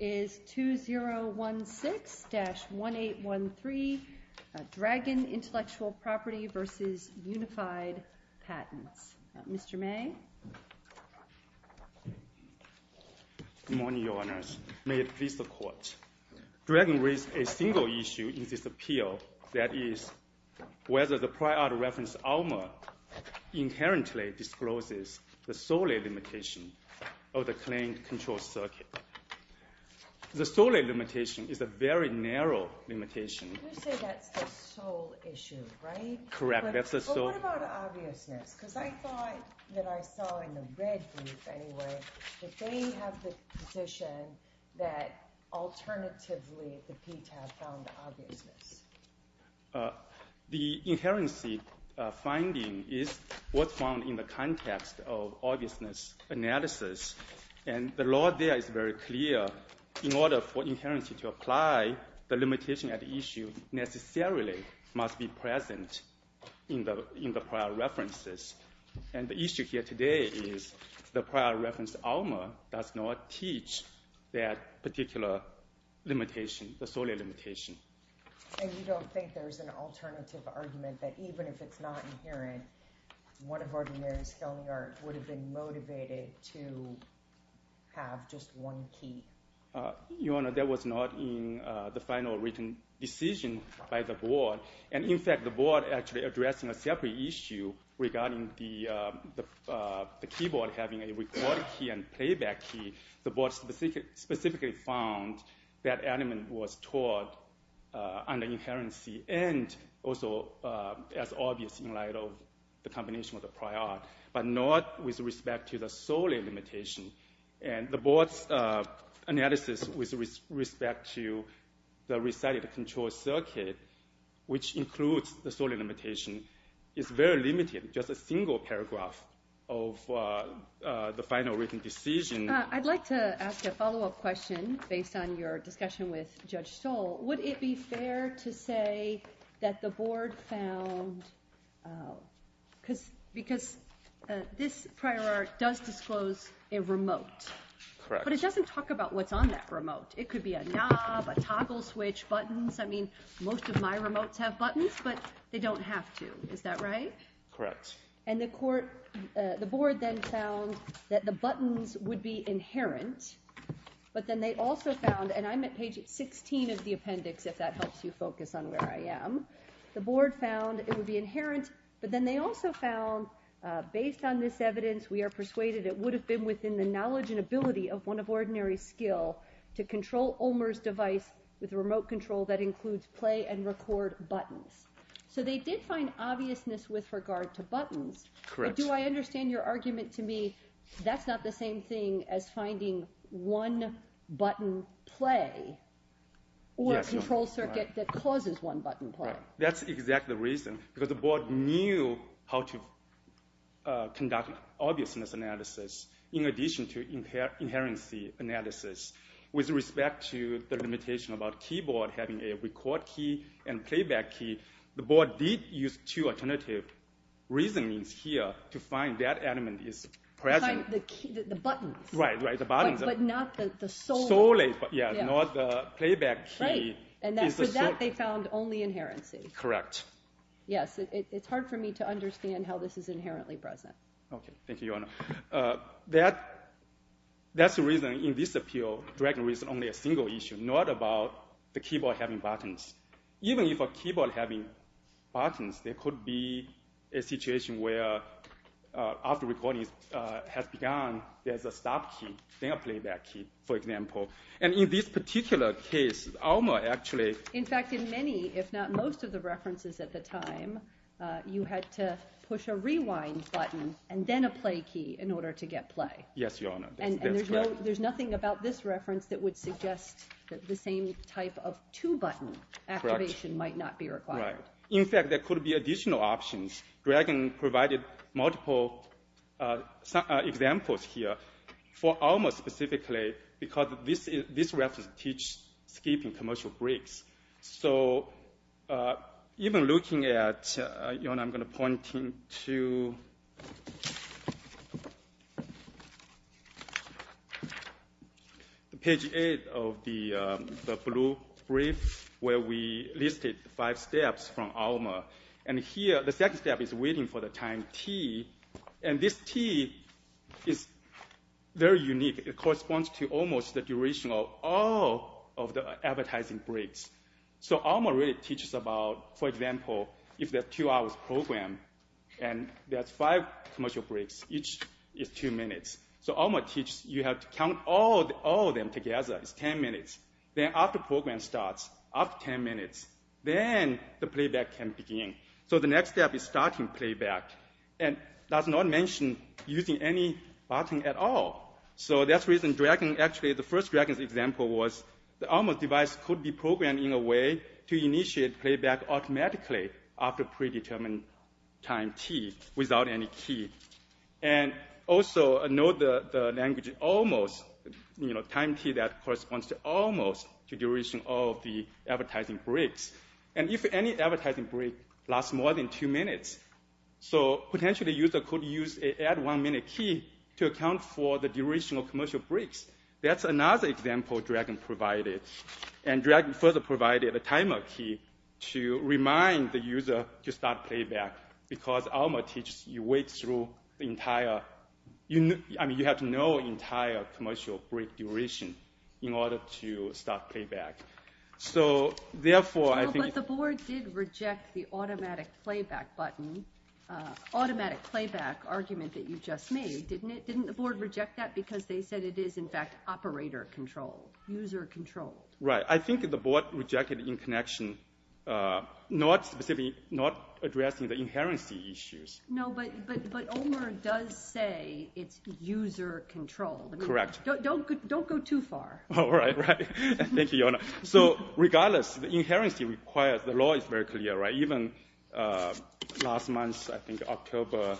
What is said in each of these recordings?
is 2016-1813, Dragon Intellectual Property versus Unified Patents. Mr. May? Good morning, Your Honors. May it please the Court. Dragon raised a single issue in this appeal. That is, whether the prior reference ALMA inherently discloses the solely limitation of the claimed control circuit. The solely limitation is a very narrow limitation. You say that's the sole issue, right? Correct. That's the sole. But what about obviousness? Because I thought that I saw in the red group, anyway, that they have the position that, alternatively, the PTAB found the obviousness. The inherency finding is what's found in the context of obviousness analysis. And the law there is very clear. In order for inherency to apply, the limitation at issue necessarily must be present in the prior references. And the issue here today is the prior reference ALMA does not teach that particular limitation, the solely limitation. And you don't think there's an alternative argument that, even if it's not inherent, one of ordinary scholarly art would have been motivated to have just one key? Your Honor, that was not in the final written decision by the board. And in fact, the board actually addressing a separate issue regarding the keyboard having a record key and playback key, the board specifically found that element was taught under inherency and also as obvious in light of the combination of the prior, but not with respect to the solely limitation. And the board's analysis with respect to the recited control circuit, which includes the solely limitation, is very limited. Just a single paragraph of the final written decision. I'd like to ask a follow-up question based on your discussion with Judge Stoll. Would it be fair to say that the board found, because this prior art does disclose a remote, but it doesn't talk about what's on that remote. It could be a knob, a toggle switch, buttons. I mean, most of my remotes have buttons, but they don't have to. Is that right? Correct. And the board then found that the buttons would be inherent, but then they also found, and I'm at page 16 of the appendix, if that helps you focus on where I am. The board found it would be inherent, but then they also found, based on this evidence, we are persuaded it would have been within the knowledge and ability of one of ordinary skill to control Ulmer's device with a remote control that includes play and record buttons. So they did find obviousness with regard to buttons. Correct. But do I understand your argument to me, that's not the same thing as finding one-button play or a control circuit that causes one-button play. That's exactly the reason. Because the board knew how to conduct obviousness analysis in addition to inherency analysis. With respect to the limitation about keyboard having a record key and playback key, the board did use two alternative reasonings here to find that element is present. The buttons. Right, right, the buttons. But not the solo. Solo, yeah, not the playback key. And for that, they found only inherency. Correct. Yes, it's hard for me to understand how this is inherently present. OK, thank you, Your Honor. That's the reason in this appeal, dragging reason only a single issue, not about the keyboard having buttons. Even if a keyboard having buttons, there could be a situation where after recording has begun, there's a stop key, then a playback key, for example. And in this particular case, Alma actually. In fact, in many, if not most of the references at the time, you had to push a rewind button and then a play key in order to get play. Yes, Your Honor. And there's nothing about this reference that would suggest that the same type of two-button activation might not be required. In fact, there could be additional options. Dragon provided multiple examples here for Alma specifically, because this reference teaches skipping commercial breaks. So even looking at, Your Honor, I'm going to point to page 8 of the blue brief where we listed five steps from Alma. And here, the second step is waiting for the time T. And this T is very unique. It corresponds to almost the duration of all of the advertising breaks. So Alma really teaches about, for example, if there are two hours programmed, and there's five commercial breaks, each is two minutes. So Alma teaches you have to count all of them together. It's 10 minutes. Then after program starts, after 10 minutes, then the playback can begin. So the next step is starting playback. And that's not mentioned using any button at all. So that's the reason, actually, the first Dragon's example was the Alma device could be programmed in a way to initiate playback automatically after predetermined time T without any key. And also, note the language almost, time T that corresponds to almost the duration of the advertising breaks. And if any advertising break lasts more than two minutes, so potentially, a user could use an add one minute key to account for the duration of commercial breaks. That's another example Dragon provided. And Dragon further provided a timer key to remind the user to start playback, because Alma teaches you wait through the entire, I mean, you have to know entire commercial break duration in order to start playback. So therefore, I think- Well, but the board did reject the automatic playback button, automatic playback argument that you just made, didn't it? Didn't the board reject that? Because they said it is, in fact, operator control, user control. Right, I think the board rejected in connection, not specifically, not addressing the inherency issues. No, but Omer does say it's user control. Correct. Don't go too far. All right, right. Thank you, Your Honor. So regardless, the inherency requires, the law is very clear, right? Even last month, I think October,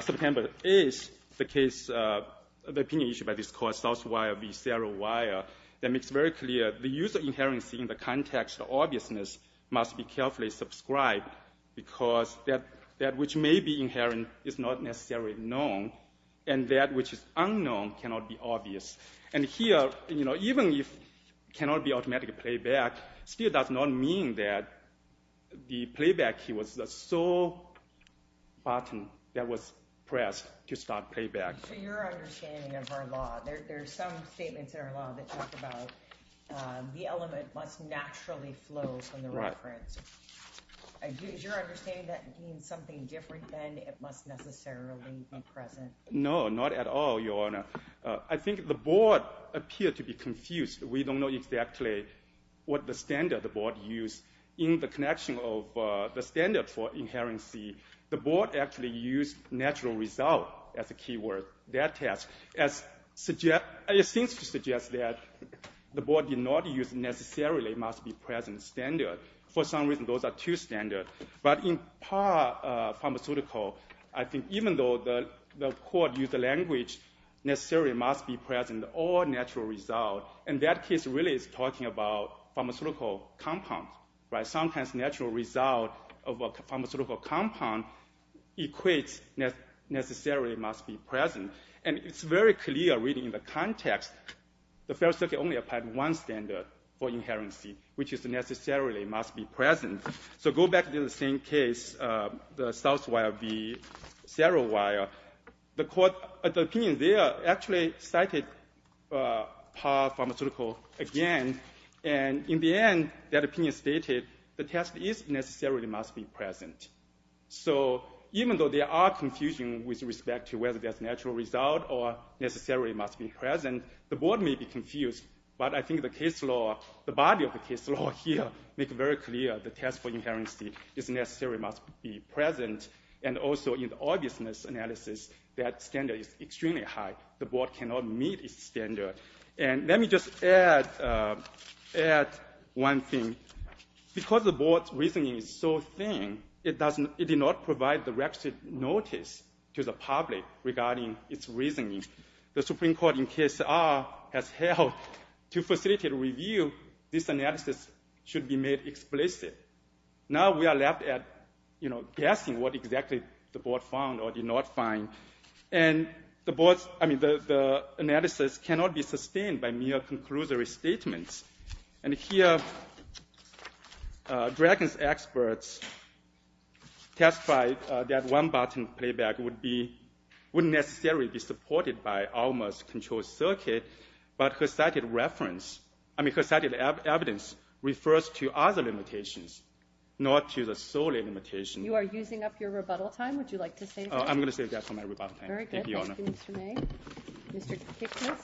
September, is the case, the opinion issued by this court, Southwire v. Sierra Wire, that makes very clear the user inherency in the context of obviousness must be carefully subscribed, because that which may be inherent is not necessarily known, and that which is unknown cannot be obvious. And here, even if it cannot be automatic playback, still does not mean that the playback key was the sole button that was pressed to start playback. So your understanding of our law, there's some statements in our law that talk about the element must naturally flow from the reference. Is your understanding that means something different than it must necessarily be present? No, not at all, Your Honor. I think the board appeared to be confused. We don't know exactly what the standard the board used in the connection of the standard for inherency. The board actually used natural result as a keyword. That test, it seems to suggest that the board did not use necessarily must be present standard. For some reason, those are two standards. But in par pharmaceutical, I think even though the court used the language necessarily must be present or natural result, and that case really is talking about pharmaceutical compounds, right? Sometimes natural result of a pharmaceutical compound equates necessarily must be present. And it's very clear reading in the context, the Federal Circuit only applied one standard for inherency, which is necessarily must be present. So go back to the same case, the Southwire v. Serowire. The court, the opinion there actually cited par pharmaceutical again. And in the end, that opinion stated, the test is necessarily must be present. So even though there are confusion with respect to whether there's natural result or necessarily must be present, the board may be confused. But I think the case law, the body of the case law here make very clear the test for inherency is necessary must be present. And also in the obviousness analysis, that standard is extremely high. The board cannot meet its standard. And let me just add one thing. Because the board's reasoning is so thin, it did not provide the requisite notice to the public regarding its reasoning. The Supreme Court in case R has held to facilitate review, this analysis should be made explicit. Now we are left at, you know, guessing what exactly the board found or did not find. And the board's, I mean, the analysis cannot be sustained by mere conclusory statements. And here Dragon's experts testified that one button playback would be, wouldn't necessarily be supported by Alma's control circuit. But her cited reference, I mean, her cited evidence refers to other limitations, not to the sole limitation. You are using up your rebuttal time. Would you like to save that? I'm going to save that for my rebuttal time. Very good. Thank you, Mr. May. Mr. Kiknis.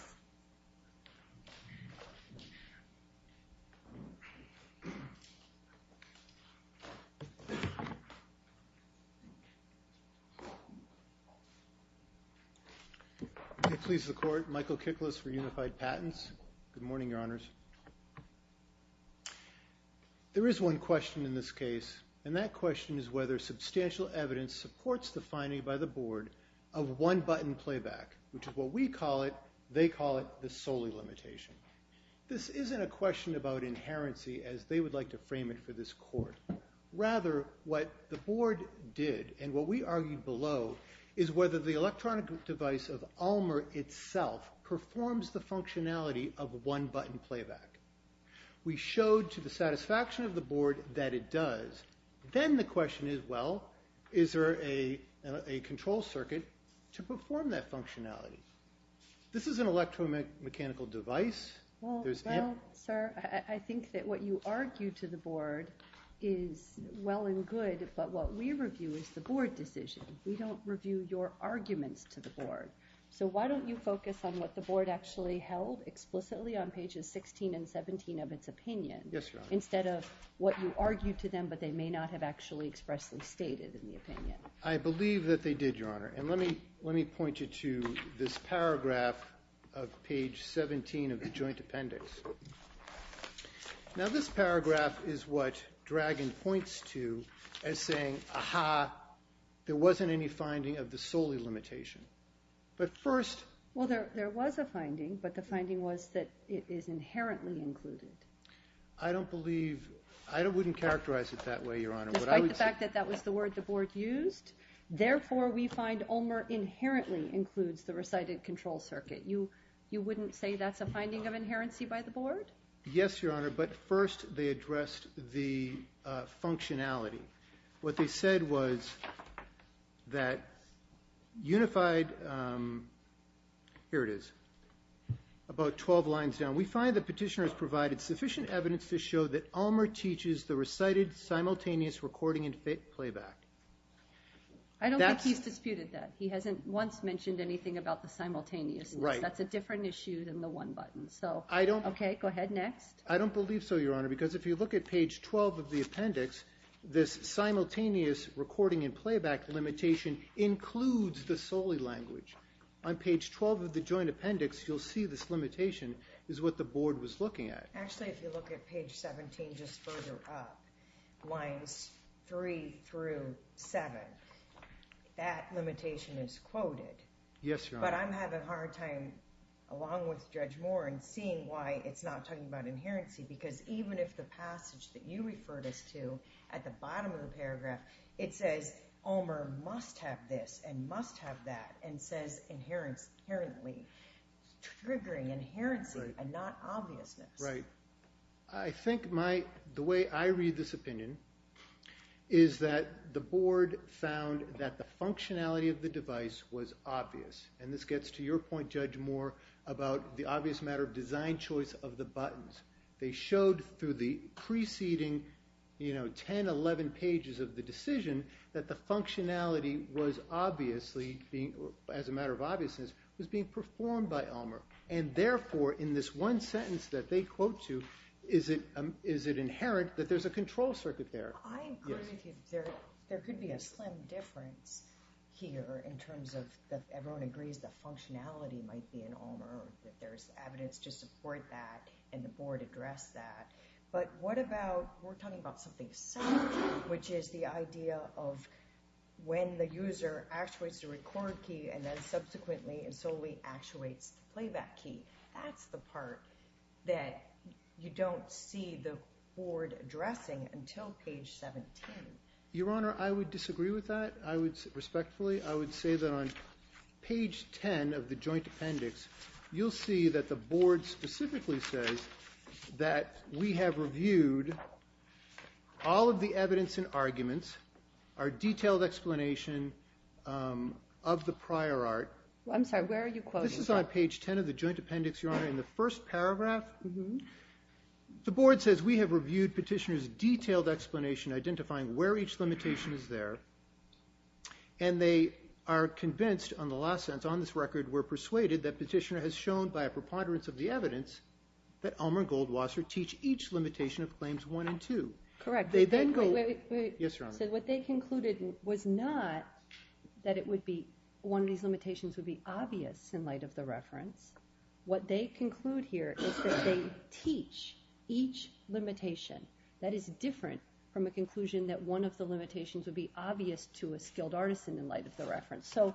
If it pleases the court, Michael Kiknis for Unified Patents. Good morning, your honors. There is one question in this case. And that question is whether substantial evidence supports the finding by the board of one button playback, which is what we call it, they call it the solely limitation. This isn't a question about inherency as they would like to frame it for this court. Rather what the board did and what we argued below is whether the electronic device of Alma itself performs the functionality of one button playback. We showed to the satisfaction of the board that it does. Then the question is, well, is there a control circuit to perform that functionality? This is an electromechanical device. Well, sir, I think that what you argue to the board is well and good, but what we review is the board decision. We don't review your arguments to the board. So why don't you focus on what the board actually held explicitly on pages 16 and 17 of its opinion instead of what you argued to them, but they may not have actually expressly stated in the opinion. I believe that they did, your honor. And let me point you to this paragraph of page 17 of the joint appendix. Now this paragraph is what Dragon points to as saying, aha, there wasn't any finding of the solely limitation. But first. Well, there was a finding, but the finding was that it is inherently included. I don't believe, I wouldn't characterize it that way, your honor. Despite the fact that that was the word the board used. Therefore we find Omer inherently includes the recited control circuit. You wouldn't say that's a finding of inherency by the board? Yes, your honor. But first they addressed the functionality. What they said was that unified, here it is, about 12 lines down. We find the petitioner has provided sufficient evidence to show that Omer teaches the recited simultaneous recording and fit playback. I don't think he's disputed that. He hasn't once mentioned anything about the simultaneousness. That's a different issue than the one button. So, okay, go ahead next. I don't believe so, your honor. Because if you look at page 12 of the appendix, this simultaneous recording and playback limitation includes the solely language. On page 12 of the joint appendix, you'll see this limitation is what the board was looking at. Actually, if you look at page 17, just further up lines three through seven, that limitation is quoted. Yes, your honor. But I'm having a hard time along with Judge Moore and seeing why it's not talking about inherency. Because even if the passage that you referred us to at the bottom of the paragraph, it says Omer must have this and must have that. And says inherently, triggering, inherency and not obviousness. Right. I think the way I read this opinion is that the board found that the functionality of the device was obvious. And this gets to your point, Judge Moore, about the obvious matter of design choice of the buttons. They showed through the preceding 10, 11 pages of the decision that the functionality was obviously, as a matter of obviousness, was being performed by Omer. And therefore, in this one sentence that they quote to, is it inherent that there's a control circuit there? I agree with you. There could be a slim difference here in terms of that everyone agrees the functionality might be in Omer, that there's evidence to support that and the board addressed that. But what about, we're talking about something separate, which is the idea of when the user actuates the record key and then subsequently and solely actuates the playback key. That's the part that you don't see the board addressing until page 17. Your Honor, I would disagree with that. I would, respectfully, I would say that on page 10, of the joint appendix, you'll see that the board specifically says that we have reviewed all of the evidence and arguments, our detailed explanation of the prior art. I'm sorry, where are you quoting? This is on page 10 of the joint appendix, Your Honor. In the first paragraph, the board says we have reviewed petitioner's detailed explanation identifying where each limitation is there. And they are convinced on the last sentence, on this record, we're persuaded that petitioner has shown by a preponderance of the evidence that Omer and Goldwasser teach each limitation of claims one and two. Correct. They then go, yes, Your Honor. So what they concluded was not that it would be, one of these limitations would be obvious in light of the reference. What they conclude here is that they teach each limitation. That is different from a conclusion that one of the limitations would be obvious to a skilled artisan in light of the reference. So,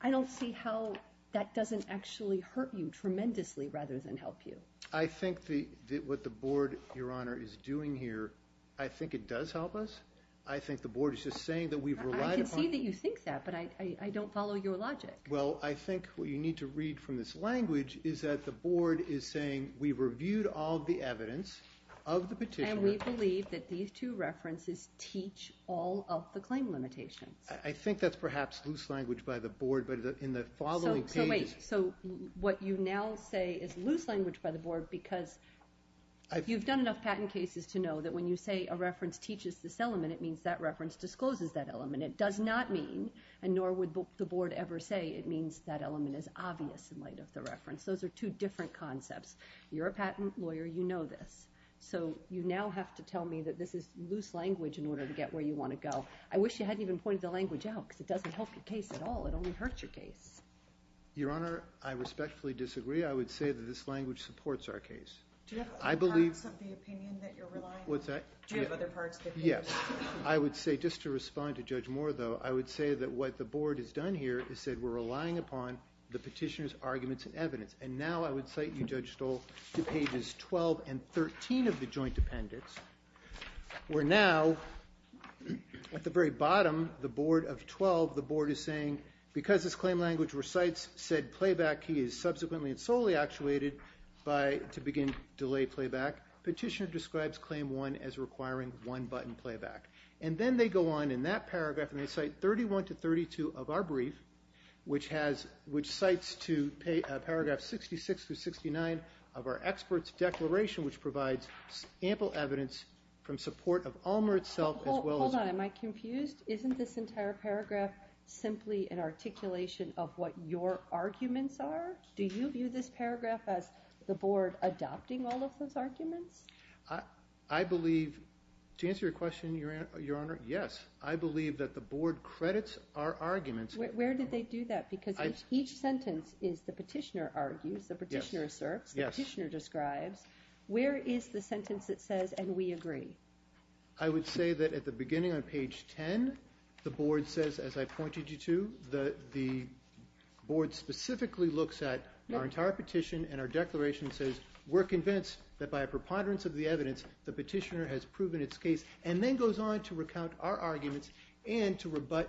I don't see how that doesn't actually hurt you tremendously rather than help you. I think that what the board, Your Honor, is doing here, I think it does help us. I think the board is just saying that we've relied upon. I can see that you think that, but I don't follow your logic. Well, I think what you need to read from this language is that the board is saying we've reviewed all of the evidence of the petitioner. And we believe that these two references teach all of the claim limitations. I think that's perhaps loose language by the board, but in the following pages. So wait, so what you now say is loose language by the board because you've done enough patent cases to know that when you say a reference teaches this element, it means that reference discloses that element. It does not mean, and nor would the board ever say, it means that element is obvious in light of the reference. Those are two different concepts. You're a patent lawyer, you know this. So you now have to tell me that this is loose language in order to get where you want to go. I wish you hadn't even pointed the language out because it doesn't help your case at all. It only hurts your case. Your Honor, I respectfully disagree. I would say that this language supports our case. Do you have other parts of the opinion that you're relying on? What's that? Do you have other parts that you're relying on? Yes. I would say, just to respond to Judge Moore, though, I would say that what the board has done here is said we're relying upon the petitioner's arguments and evidence. And now I would cite you, Judge Stoll, to pages 12 and 13 of the joint appendix, where now, at the very bottom, the board of 12, the board is saying, because this claim language recites said playback key is subsequently and solely actuated to begin delay playback, petitioner describes claim one as requiring one button playback. And then they go on in that paragraph and they cite 31 to 32 of our brief, which cites to paragraph 66 to 69 of our expert's declaration, which from support of Alma itself, as well as Hold on. Am I confused? Isn't this entire paragraph simply an articulation of what your arguments are? Do you view this paragraph as the board adopting all of those arguments? I believe, to answer your question, Your Honor, yes. I believe that the board credits our arguments. Where did they do that? Because each sentence is the petitioner argues, the petitioner asserts, the petitioner describes. Where is the sentence that says, and we agree? I would say that at the beginning on page 10, the board says, as I pointed you to, the board specifically looks at our entire petition and our declaration says, we're convinced that by a preponderance of the evidence, the petitioner has proven its case, and then goes on to recount our arguments and to rebut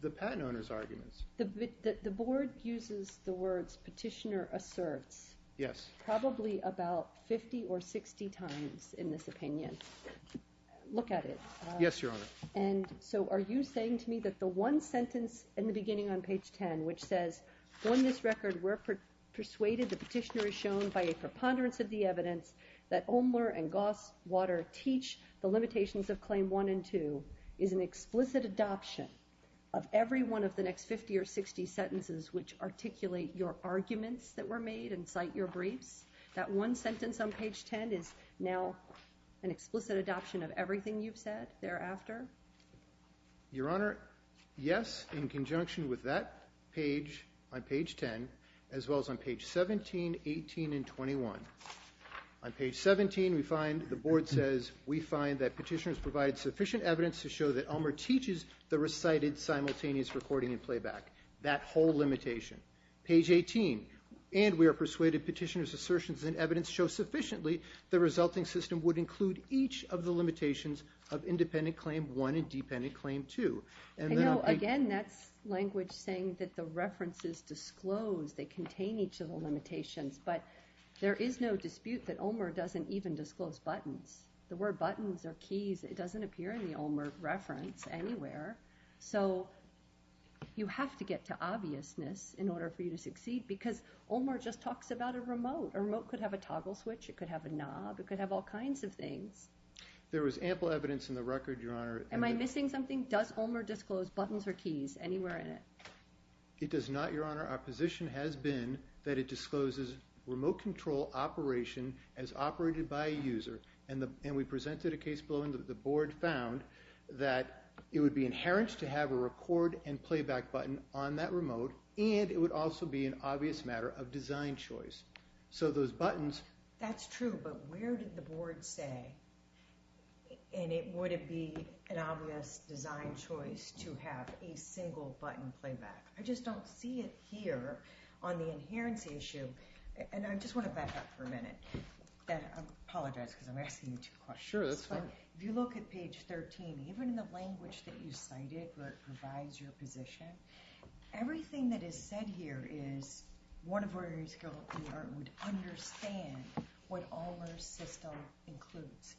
the patent owner's arguments. The board uses the words petitioner asserts. Yes. Probably about 50 or 60 times in this opinion. Look at it. Yes, Your Honor. And so are you saying to me that the one sentence in the beginning on page 10, which says, on this record, we're persuaded the petitioner is shown by a preponderance of the evidence that Omler and Goss-Water teach the limitations of claim one and two, is an explicit adoption of every one of the next 50 or 60 sentences which articulate your arguments that were made and cite your briefs? That one sentence on page 10 is now an explicit adoption of everything you've said thereafter? Your Honor, yes, in conjunction with that page on page 10, as well as on page 17, 18, and 21. On page 17, we find, the board says, we find that petitioners provide sufficient evidence to show that Omler teaches the recited simultaneous recording and playback, that whole limitation. Page 18, and we are persuaded petitioners' assertions and evidence show sufficiently the resulting system would include each of the limitations of independent claim one and dependent claim two. And now, again, that's language saying that the references disclose, they contain each of the limitations. But there is no dispute that Omler doesn't even disclose buttons. The word buttons or keys, it doesn't appear in the Omler reference anywhere. So you have to get to obviousness in order for you to succeed, because Omler just talks about a remote. A remote could have a toggle switch. It could have a knob. It could have all kinds of things. There was ample evidence in the record, Your Honor. Am I missing something? Does Omler disclose buttons or keys anywhere in it? It does not, Your Honor. Our position has been that it discloses remote control operation as operated by a user. And we presented a case below, and the board found that it would be inherent to have a record and playback button on that remote, and it would also be an obvious matter of design choice. So those buttons. That's true, but where did the board say, and would it be an obvious design choice to have a single button playback? I just don't see it here on the inheritance issue. And I just want to back up for a minute. I apologize, because I'm asking you two questions. Sure, that's fine. If you look at page 13, even in the language that you cited, where it provides your position, everything that is said here is one of ordinary skilled in the art would understand what Omler's system includes.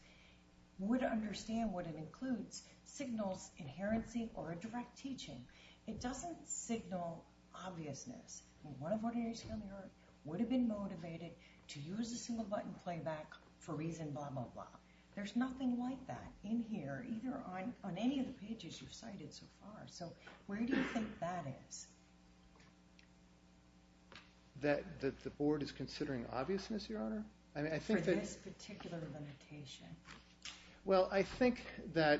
Would understand what it includes signals inherency or a direct teaching. It doesn't signal obviousness. One of ordinary skilled in the art for reason blah, blah, blah. There's nothing like that in here, either on any of the pages you've cited so far. So where do you think that is? That the board is considering obviousness, Your Honor? I mean, I think that. For this particular limitation. Well, I think that,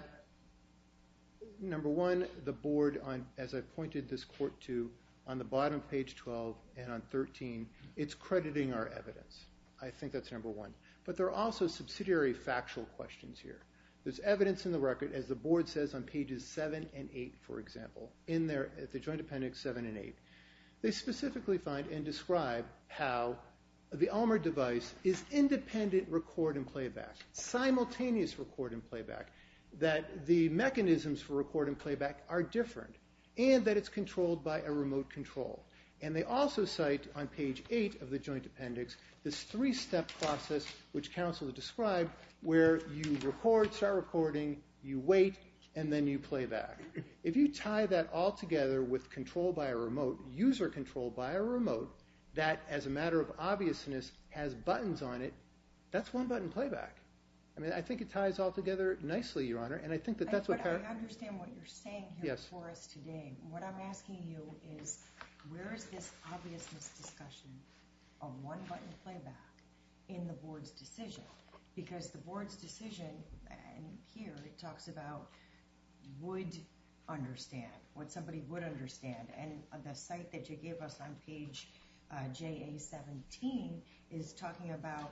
number one, the board, as I pointed this court to, on the bottom page 12 and on 13, it's crediting our evidence. I think that's number one. But there are also subsidiary factual questions here. There's evidence in the record, as the board says on pages 7 and 8, for example, in the joint appendix 7 and 8. They specifically find and describe how the Omler device is independent record and playback, simultaneous record and playback, that the mechanisms for record and playback are different, and that it's controlled by a remote control. And they also cite, on page 8 of the joint appendix, this three-step process, which counsel described, where you record, start recording, you wait, and then you play back. If you tie that all together with control by a remote, user control by a remote, that, as a matter of obviousness, has buttons on it, that's one-button playback. I mean, I think it ties all together nicely, Your Honor. And I think that that's what part of it. But I understand what you're saying here for us today. What I'm asking you is, where is this obviousness discussion of one-button playback in the board's decision? Because the board's decision, and here, it talks about would understand, what somebody would understand. And the cite that you gave us on page JA-17 is talking about,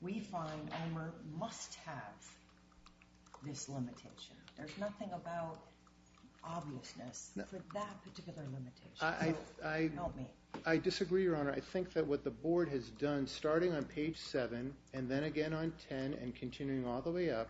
we find Omler must have this limitation. There's nothing about obviousness for that particular limitation, help me. I disagree, Your Honor. I think that what the board has done, starting on page seven, and then again on 10, and continuing all the way up,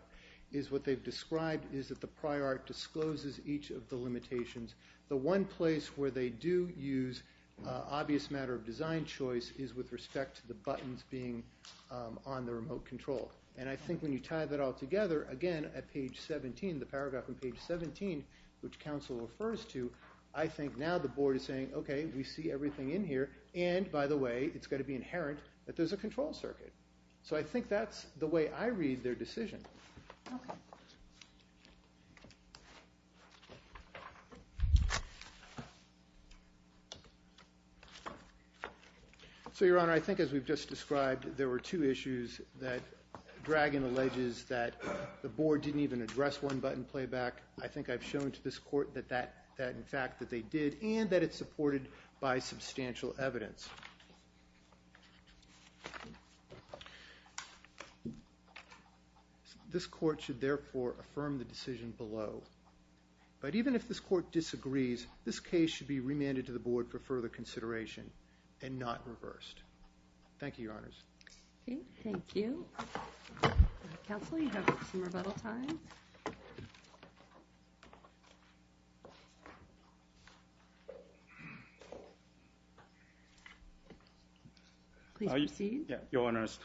is what they've described is that the prior art discloses each of the limitations. The one place where they do use obvious matter of design choice is with respect to the buttons being on the remote control. And I think when you tie that all together, again, at page 17, the paragraph on page 17, which counsel refers to, I think now the board is saying, okay, we see everything in here. And by the way, it's gotta be inherent that there's a control circuit. So I think that's the way I read their decision. So Your Honor, I think as we've just described, there were two issues that Dragon alleges that the board didn't even address one-button playback. I think I've shown to this court that in fact, that they did and that it's supported by substantial evidence. This court should therefore affirm the decision below. But even if this court disagrees, this case should be remanded to the board for further consideration and not reversed. Thank you, Your Honors. Okay, thank you. Counsel, you have some rebuttal time. Thank you. Please proceed. Yeah, Your Honors.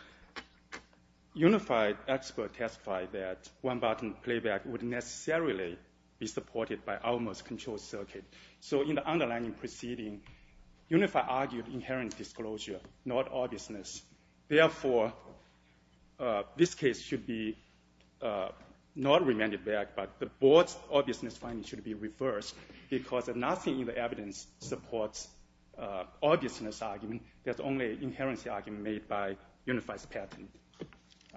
Unified expert testified that one-button playback would necessarily be supported by almost control circuit. So in the underlying proceeding, Unified argued inherent disclosure, not obviousness. Therefore, this case should be not remanded back, but the board's obviousness finding should be reversed because nothing in the evidence supports obviousness argument. There's only an inherent argument made by Unified's patent.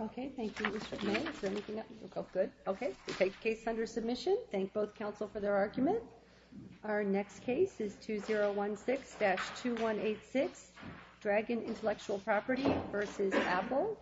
Okay, thank you, Mr. Meng. Is there anything else? Okay, good. Okay, the case is under submission. Thank both counsel for their argument. Our next case is 2016-2186, Dragon Intellectual Property versus Apple.